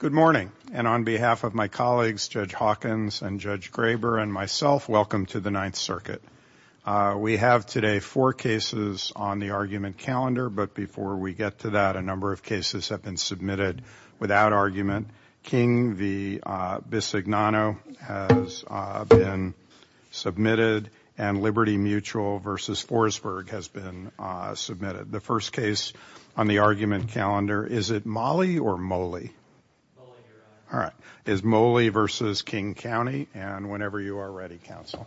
Good morning, and on behalf of my colleagues, Judge Hawkins and Judge Graber and myself, welcome to the Ninth Circuit. We have today four cases on the argument calendar, but before we get to that, a number of cases have been submitted without argument. King v. Bisognano has been submitted, and Liberty Mutual v. Forsberg has been submitted. The first case on the argument calendar, is it Moli or Moli? It's Moli v. King County, and whenever you are ready, counsel.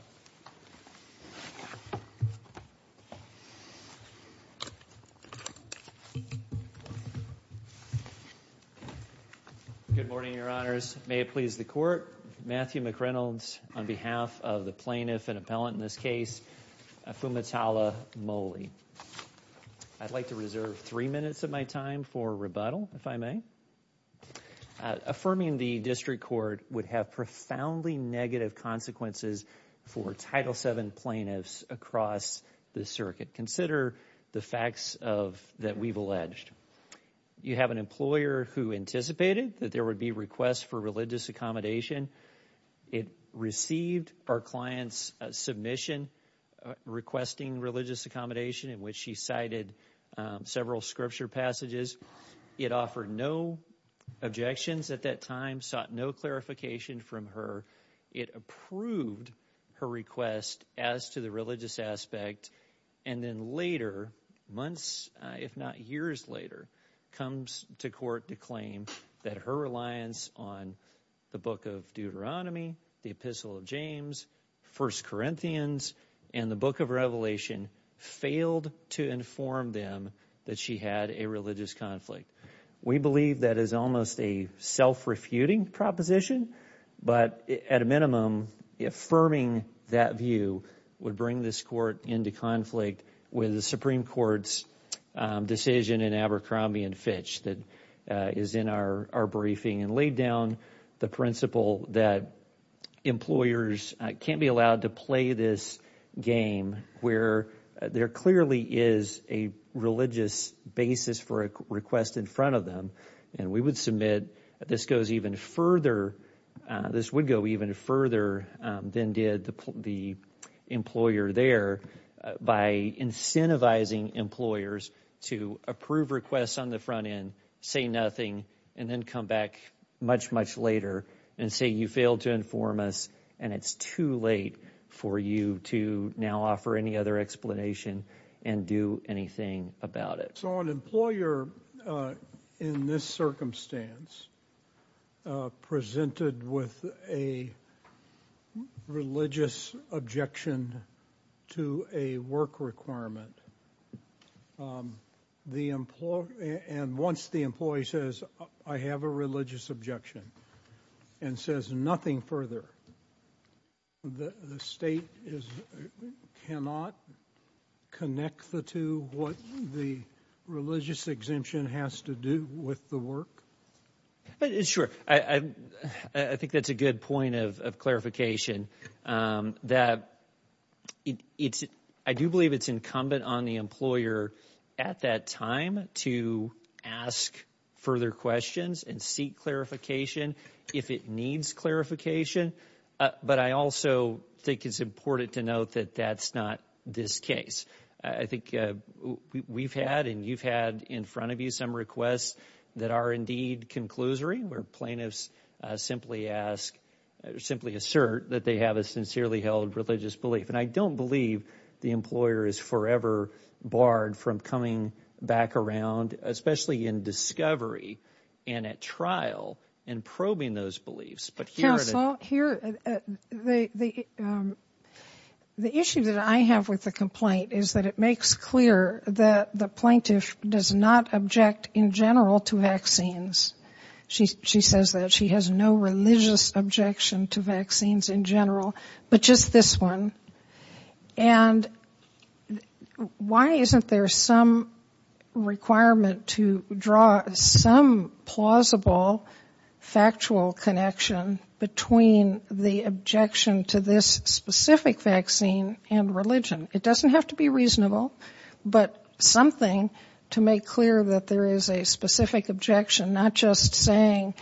Good morning, Your Honors. May it please the Court, Matthew McReynolds on behalf of the plaintiff and appellant in this case, Fumitala Moli. I'd like to reserve three minutes of my time for rebuttal, if I may. Affirming the district court would have profoundly negative consequences for Title VII plaintiffs across the circuit. Consider the facts that we've alleged. You have an employer who anticipated that there would be requests for religious accommodation. It received our client's submission requesting religious accommodation, in which she cited several scripture passages. It offered no objections at that time, sought no clarification from her. It approved her request as to the religious aspect, and then later, months if not years later, comes to court to claim that her reliance on the Book of Deuteronomy, the Epistle of James, 1 Corinthians, and the Book of Revelation failed to inform them that she had a religious conflict. We believe that is almost a self-refuting proposition, but at a minimum, affirming that view would bring this court into conflict with the Supreme Court's decision in Abercrombie and Fitch that is in our briefing and laid down the principle that employers can't be allowed to play this game where there clearly is a religious basis for a request in front of them. We would submit this goes even further, this would go even further than did the employer there by incentivizing employers to approve requests on the front end, say nothing, and then come back much, much later and say you failed to inform us and it's too late for you to now offer any other explanation and do anything about it. So an employer in this circumstance presented with a religious objection to a work requirement, and once the employee says I have a religious objection and says nothing further, the state cannot connect the two, what the religious exemption has to do with the work? Sure. I think that's a good point of clarification that I do believe it's incumbent on the employer at that time to ask further questions and seek clarification if it needs clarification, but I also think it's important to note that that's not this case. I think we've had and you've had in front of you some requests that are indeed conclusory where plaintiffs simply ask, simply assert that they have a sincerely held religious belief and I don't believe the employer is forever barred from coming back around, especially in discovery and at trial and probing those beliefs. Counsel, the issue that I have with the complaint is that it makes clear that the plaintiff does not object in general to vaccines. She says that she has no religious objection to vaccines in general, but just this one, and why isn't there some requirement to draw some plausible factual connection between the objection to this specific vaccine and religion? It doesn't have to be reasonable, but something to make clear that there is a specific objection, not just saying,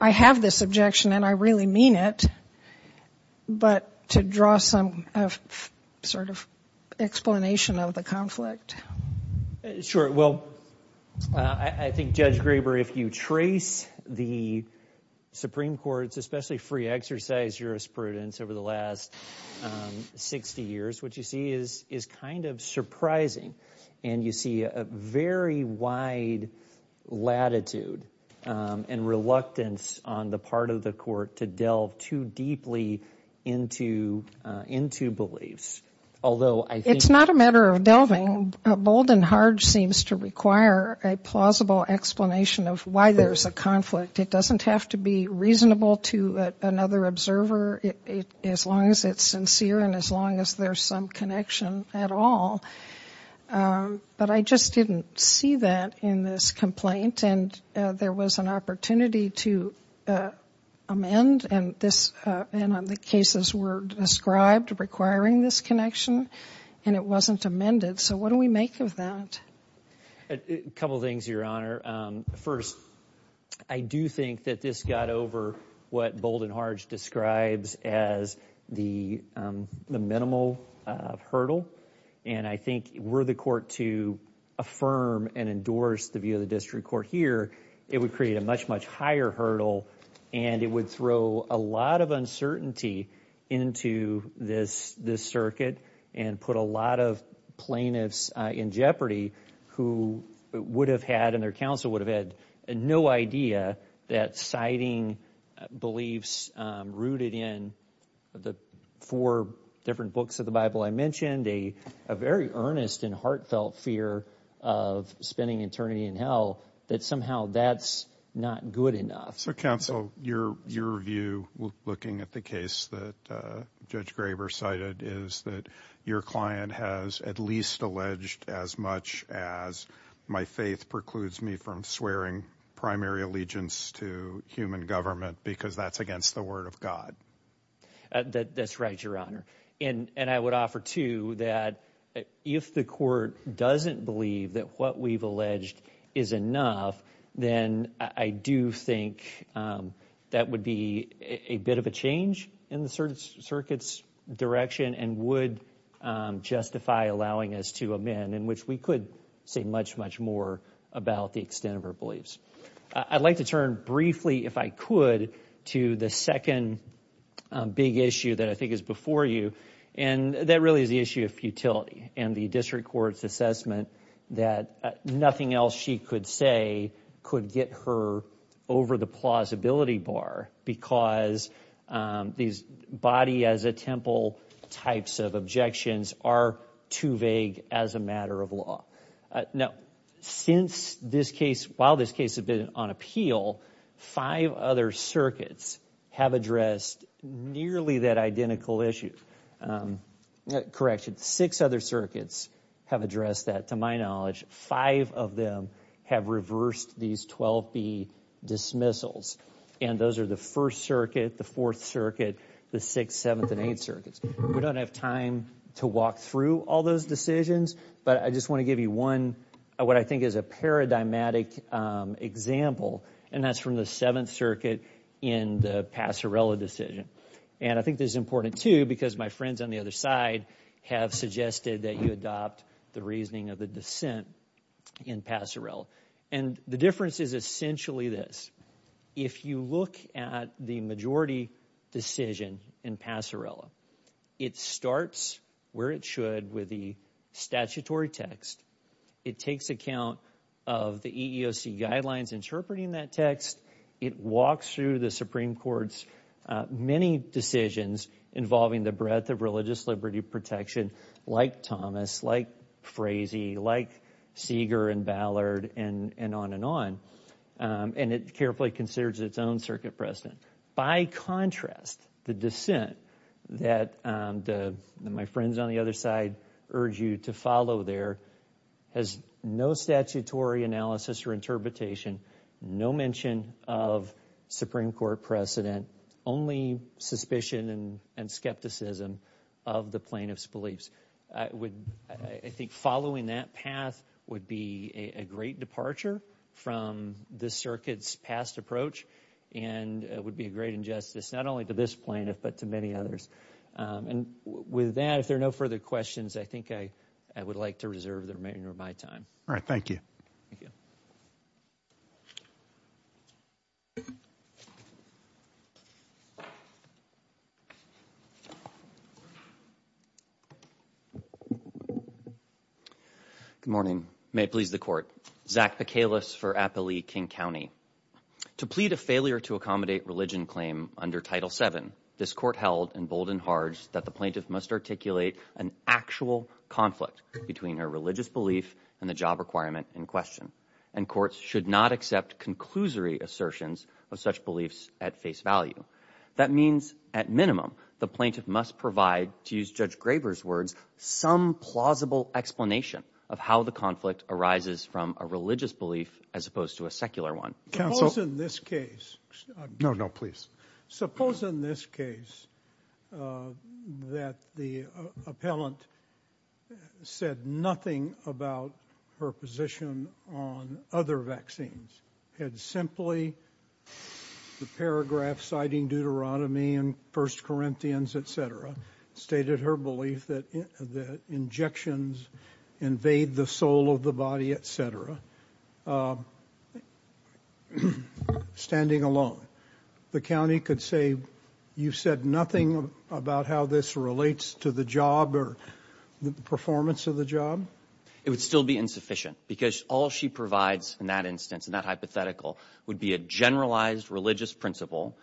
I have this objection and I really mean it, but to draw some sort of explanation of the conflict. Sure, well, I think Judge Graber, if you trace the Supreme Court's especially free exercise jurisprudence over the last 60 years, what you see is kind of surprising and you see a very wide latitude and reluctance on the part of the court to delve too deeply into beliefs. Although, I think... It's not a matter of delving, bold and hard seems to require a plausible explanation of why there's a conflict. It doesn't have to be reasonable to another observer, as long as it's sincere and as long as there's some connection at all. But I just didn't see that in this complaint, and there was an opportunity to amend, and the cases were described requiring this connection, and it wasn't amended. So what do we make of that? A couple of things, Your Honor. First, I do think that this got over what Bold and Harge describes as the minimal hurdle, and I think were the court to affirm and endorse the view of the district court here, it would create a much, much higher hurdle and it would throw a lot of uncertainty into this circuit and put a lot of plaintiffs in jeopardy who would have had, and their counsel would have had no idea that citing beliefs rooted in the four different books of the Bible I mentioned, a very earnest and heartfelt fear of spending eternity in hell, that somehow that's not good enough. So counsel, your view looking at the case that Judge Graber cited is that your client has at least alleged as much as my faith precludes me from swearing primary allegiance to human government because that's against the word of God. That's right, Your Honor. And I would offer, too, that if the court doesn't believe that what we've alleged is enough, then I do think that would be a bit of a change in the circuit's direction and would justify allowing us to amend, in which we could say much, much more about the extent of our beliefs. I'd like to turn briefly, if I could, to the second big issue that I think is before you, and that really is the issue of futility and the district court's assessment that nothing else she could say could get her over the plausibility bar because these body-as-a-temple types of objections are too vague as a matter of law. Now, since this case, while this case has been on appeal, five other circuits have addressed nearly that identical issue. Correction, six other circuits have addressed that, to my knowledge. Five of them have reversed these 12B dismissals. And those are the First Circuit, the Fourth Circuit, the Sixth, Seventh, and Eighth Circuits. We don't have time to walk through all those decisions, but I just want to give you one, what I think is a paradigmatic example, and that's from the Seventh Circuit in the Passarella decision. And I think this is important, too, because my friends on the other side have suggested that you adopt the reasoning of the dissent in Passarella. And the difference is essentially this. If you look at the majority decision in Passarella, it starts where it should with the statutory text. It takes account of the EEOC guidelines interpreting that text. It walks through the Supreme Court's many decisions involving the breadth of religious liberty protection, like Thomas, like Frazee, like Seeger and Ballard, and on and on. And it carefully considers its own circuit precedent. By contrast, the dissent that my friends on the other side urge you to follow there has no statutory analysis or interpretation, no mention of Supreme Court precedent, only suspicion and skepticism of the plaintiff's beliefs. I think following that path would be a great departure from this circuit's past approach and would be a great injustice, not only to this plaintiff, but to many others. And with that, if there are no further questions, I think I would like to reserve the remainder of my time. All right, thank you. Good morning. May it please the court. Zach Picalis for Appalachian County. To plead a failure to accommodate religion claim under Title VII, this court held in bold and hard that the plaintiff must articulate an actual conflict between her religious belief and the job requirement in question. And courts should not accept conclusory assertions of such beliefs at face value. That means, at minimum, the plaintiff must provide, to use Judge Graber's words, some plausible explanation of how the conflict arises from a religious belief as opposed to a secular one. Suppose in this case... No, no, please. Suppose in this case that the appellant said nothing about her position on other vaccines, had simply, the paragraph citing Deuteronomy and 1 Corinthians, et cetera, stated her belief that injections invade the soul of the body, et cetera, standing alone. The county could say, you've said nothing about how this relates to the job or the performance of the job? It would still be insufficient because all she provides in that instance, in that hypothetical, would be a generalized religious principle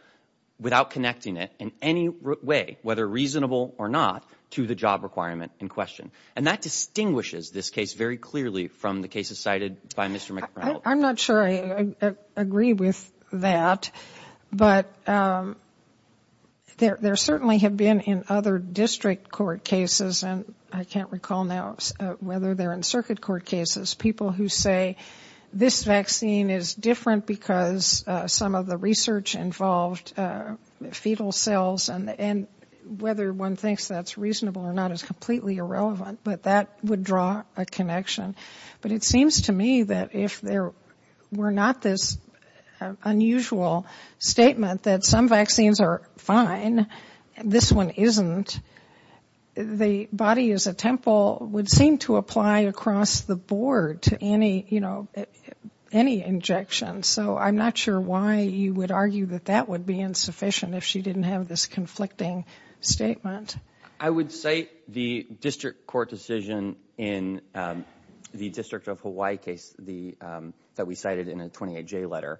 without connecting it in any way, whether reasonable or not, to the job requirement in question. And that distinguishes this case very clearly from the cases cited by Mr. McReynolds. I'm not sure I agree with that, but there certainly have been in other district court cases, and I can't recall now whether they're in circuit court cases, people who say this vaccine is different because some of the research involved fetal cells and whether one thinks that's reasonable or not is completely irrelevant, but that would draw a connection. But it seems to me that if there were not this unusual statement that some vaccines are fine, this one isn't, the body is a temple would seem to apply across the board to any, you know, any injection. So I'm not sure why you would argue that that would be insufficient if she didn't have this conflicting statement. I would cite the district court decision in the District of Hawaii case that we cited in a 28-J letter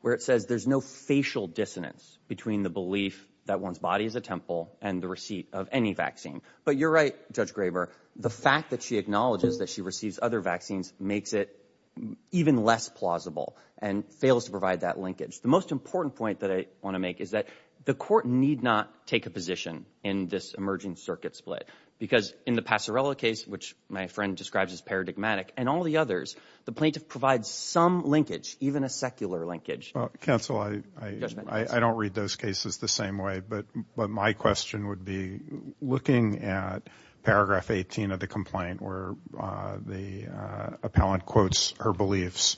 where it says there's no facial dissonance between the belief that one's body is a temple and the receipt of any vaccine. But you're right, Judge Graber, the fact that she acknowledges that she receives other vaccines makes it even less plausible and fails to provide that linkage. The most important point that I want to make is that the court need not take a position in this emerging circuit split because in the Pasarela case, which my friend describes as paradigmatic, and all the others, the plaintiff provides some linkage, even a secular linkage. Counsel, I don't read those cases the same way, but my question would be looking at paragraph 18 of the complaint where the appellant quotes her beliefs.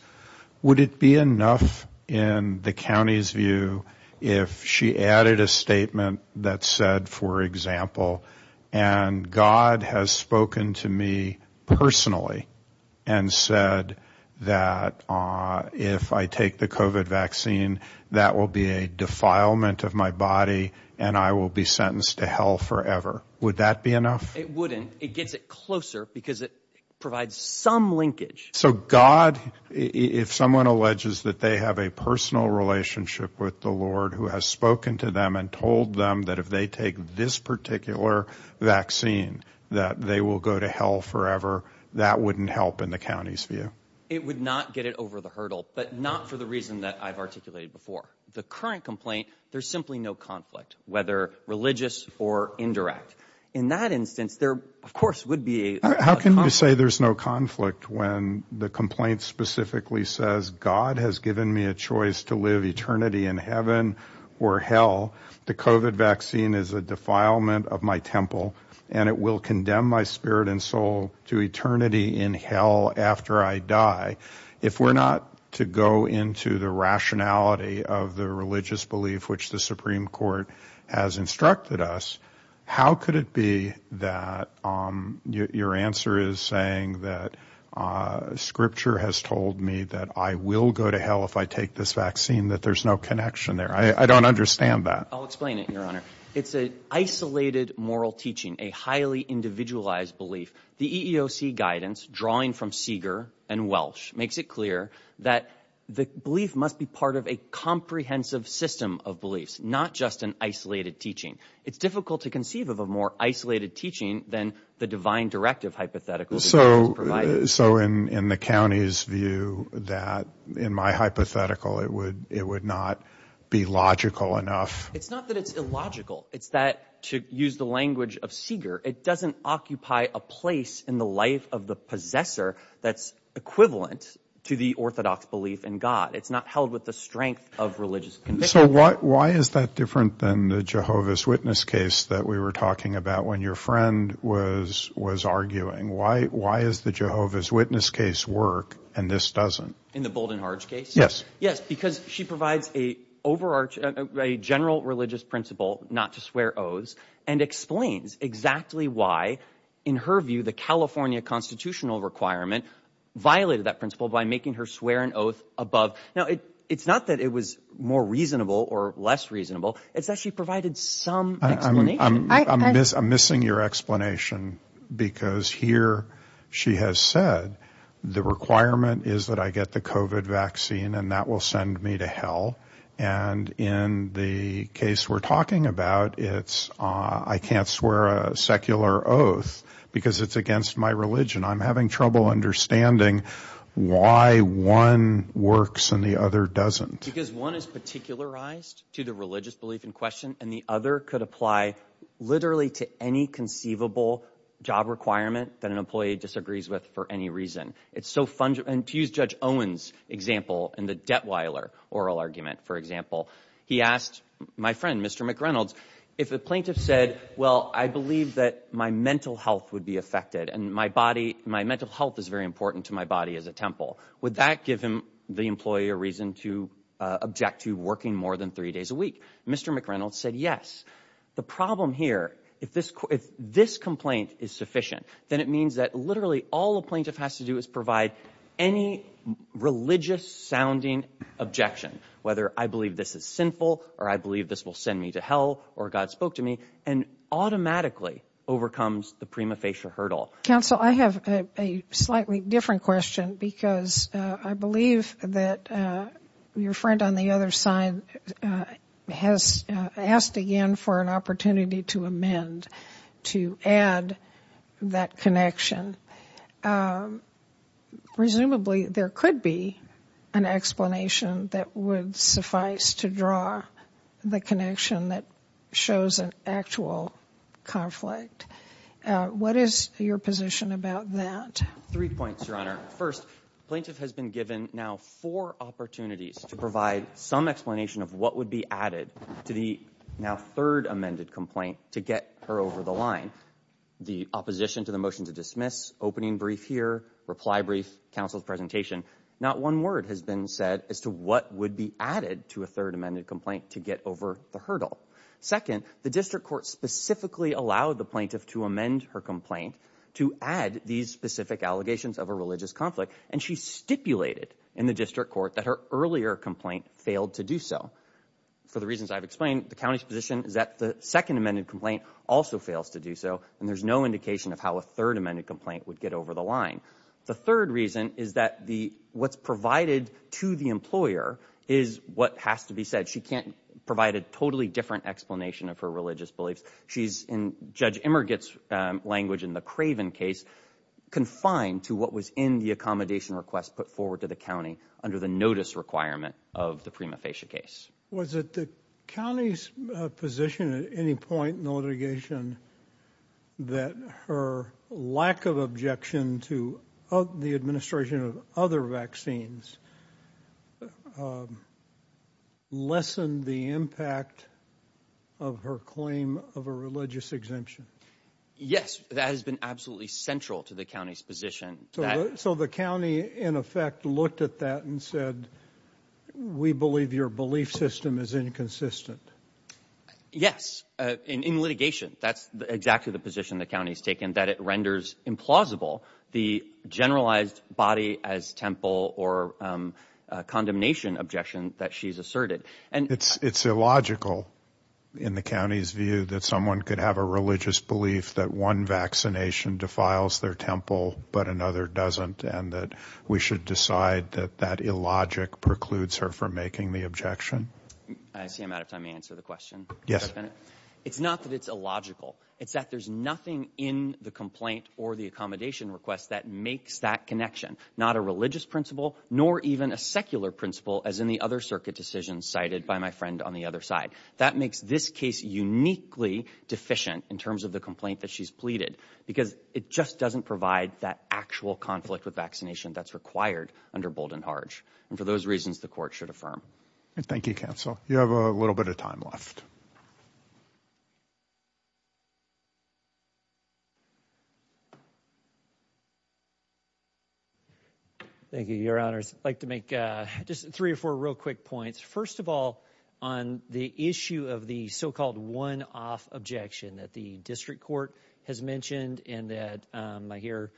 Would it be enough in the county's view if she added a statement that said, for example, and God has spoken to me personally and said that if I take the COVID vaccine, that will be a defilement of my body and I will be sentenced to hell forever. Would that be enough? It wouldn't. It gets it closer because it provides some linkage. So God, if someone alleges that they have a personal relationship with the Lord who has spoken to them and told them that if they take this particular vaccine, that they will go to hell forever, that wouldn't help in the county's view? It would not get it over the hurdle, but not for the reason that I've articulated before. The current complaint, there's simply no conflict, whether religious or indirect. In that instance, there, of course, would be how can you say there's no conflict when the complaint specifically says God has given me a choice to live eternity in heaven or hell? The COVID vaccine is a defilement of my temple and it will condemn my spirit and soul to eternity in hell after I die. If we're not to go into the rationality of the religious belief, which the Supreme Court has instructed us, how could it be that your answer is saying that scripture has told me that I will go to hell if I take this vaccine, that there's no connection there? I don't understand that. I'll explain it, Your Honor. It's a isolated moral teaching, a highly individualized belief. The EEOC guidance drawing from Seeger and Welsh makes it clear that the belief must be part of a comprehensive system of beliefs, not just an isolated teaching. It's difficult to conceive of a more isolated teaching than the divine directive hypothetical. So in the county's view that in my hypothetical, it would not be logical enough. It's not that it's illogical. It's that to use the language of Seeger, it doesn't occupy a place in the life of the possessor that's equivalent to the Orthodox belief in God. It's not held with the strength of religious conviction. So why is that different than the Jehovah's Witness case that we were talking about when your friend was arguing? Why is the Jehovah's Witness case work and this doesn't? In the Bold and Harge case? Yes. Yes, because she provides a general religious principle not to swear oaths and explains exactly why, in her view, the California constitutional requirement violated that principle by making her swear an oath above. Now, it's not that it was more reasonable or less reasonable. It's that she provided some explanation. I'm missing your explanation because here, she has said the requirement is that I get the COVID vaccine and that will send me to hell. And in the case we're talking about, it's I can't swear a secular oath because it's against my religion. I'm having trouble understanding why one works and the other doesn't. Because one is particularized to the religious belief in question and the other could apply literally to any conceivable job requirement that an employee disagrees with for any reason. It's so fun to use Judge Owens' example in the Detweiler oral argument, for example, he asked my friend, Mr. McReynolds, if a plaintiff said, well, I believe that my mental health would be affected and my body, my mental health is very important to my body as a temple. Would that give him the employee a reason to object to working more than three days a week? Mr. McReynolds said, yes. The problem here, if this complaint is sufficient, then it means that literally all a plaintiff has to do is provide any religious sounding objection, whether I believe this is sinful or I believe this will send me to hell or God spoke to me and automatically overcomes the prima facie hurdle. Counsel, I have a slightly different question because I believe that your friend on the other side has asked again for an opportunity to amend to add that connection. Presumably, there could be an explanation that would suffice to draw the connection that shows an actual conflict. What is your position about that? Three points, Your Honor. First, plaintiff has been given now four opportunities to provide some explanation of what would be added to the now third amended complaint to get her over the line. The opposition to the motion to dismiss, opening brief here, reply brief, counsel's presentation. Not one word has been said as to what would be added to a third amended complaint to get over the hurdle. Second, the district court specifically allowed the plaintiff to amend her complaint to add these specific allegations of a religious conflict and she stipulated in the district court that her earlier complaint failed to do so. For the reasons I've explained, the county's position is that the second amended complaint also fails to do so and there's no indication of how a third amended complaint would get over the line. The third reason is that what's provided to the employer is what has to be said. She can't provide a totally different explanation of her religious beliefs. She's, in Judge Emmerich's language in the Craven case, confined to what was in the accommodation request put forward to the county under the notice requirement of the prima facie case. Was it the county's position at any point in the litigation that her lack of objection to the administration of other vaccines lessened the impact of her claim of a religious exemption? Yes, that has been absolutely central to the county's position. So the county, in effect, looked at that and said, we believe your belief system is inconsistent. Yes, in litigation, that's exactly the position the county's taken, that it renders implausible the generalized body as temple or condemnation objection that she's asserted. It's illogical in the county's view that someone could have a religious belief that one vaccination defiles their temple but another doesn't and that we should decide that that illogic precludes her from making the objection. I see I'm out of time to answer the question. Yes. It's not that it's illogical, it's that there's nothing in the complaint or the accommodation request that makes that connection, not a religious principle nor even a secular principle as in the other circuit decisions cited by my friend on the other side. That makes this case uniquely deficient in terms of the complaint that she's pleaded because it just doesn't provide that actual conflict with vaccination that's required under Bold and Harge. And for those reasons, the court should affirm. Thank you, counsel. You have a little bit of time left. Thank you, your honors. I'd like to make just three or four real quick points. First of all, on the issue of the so-called one-off objection that the district court has mentioned and that I hear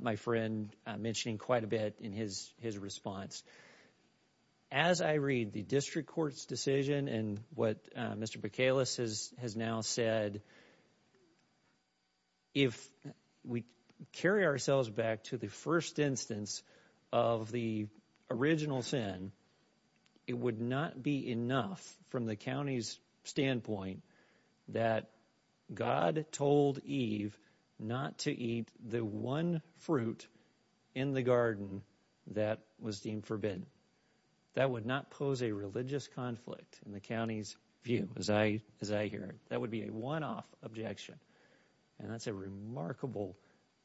my friend mentioning quite a bit in his response. As I read the district court's decision and what Mr. Bacalus has has now said. If we carry ourselves back to the first instance of the original sin, it would not be enough from the county's standpoint that God told Eve not to eat the one fruit in the that was deemed forbidden. That would not pose a religious conflict in the county's view. As I as I hear it, that would be a one-off objection. And that's a remarkable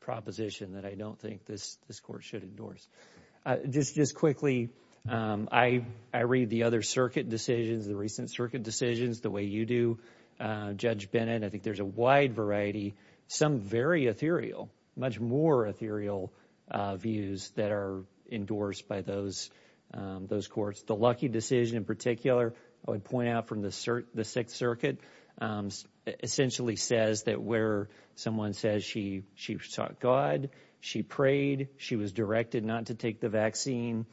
proposition that I don't think this this court should endorse just just quickly. I read the other circuit decisions. The recent circuit decisions the way you do judge Bennett. I think there's a wide variety some very ethereal much more ethereal views that are endorsed by those those courts. The lucky decision in particular. I would point out from the sir. The Sixth Circuit essentially says that where someone says she she sought God she prayed she was directed not to take the vaccine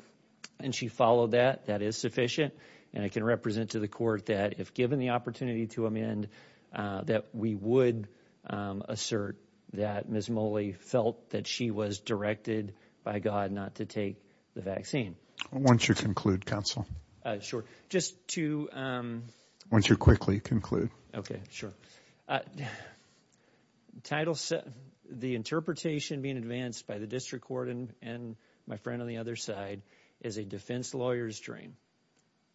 and she followed that that is sufficient and I can represent to the court that if given the opportunity to amend that we would assert that Miss Molly felt that she was directed by God not to take the vaccine. Once you conclude Council short just to once you quickly conclude. Okay. Sure title set the interpretation being advanced by the district court and and my friend on the other side is a defense lawyers drain.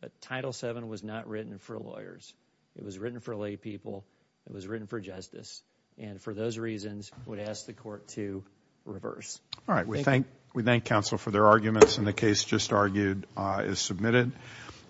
But title 7 was not written for lawyers. It was written for laypeople. It was written for Justice and for those reasons would ask the court to reverse. We thank we thank counsel for their arguments in the case just argued is submitted.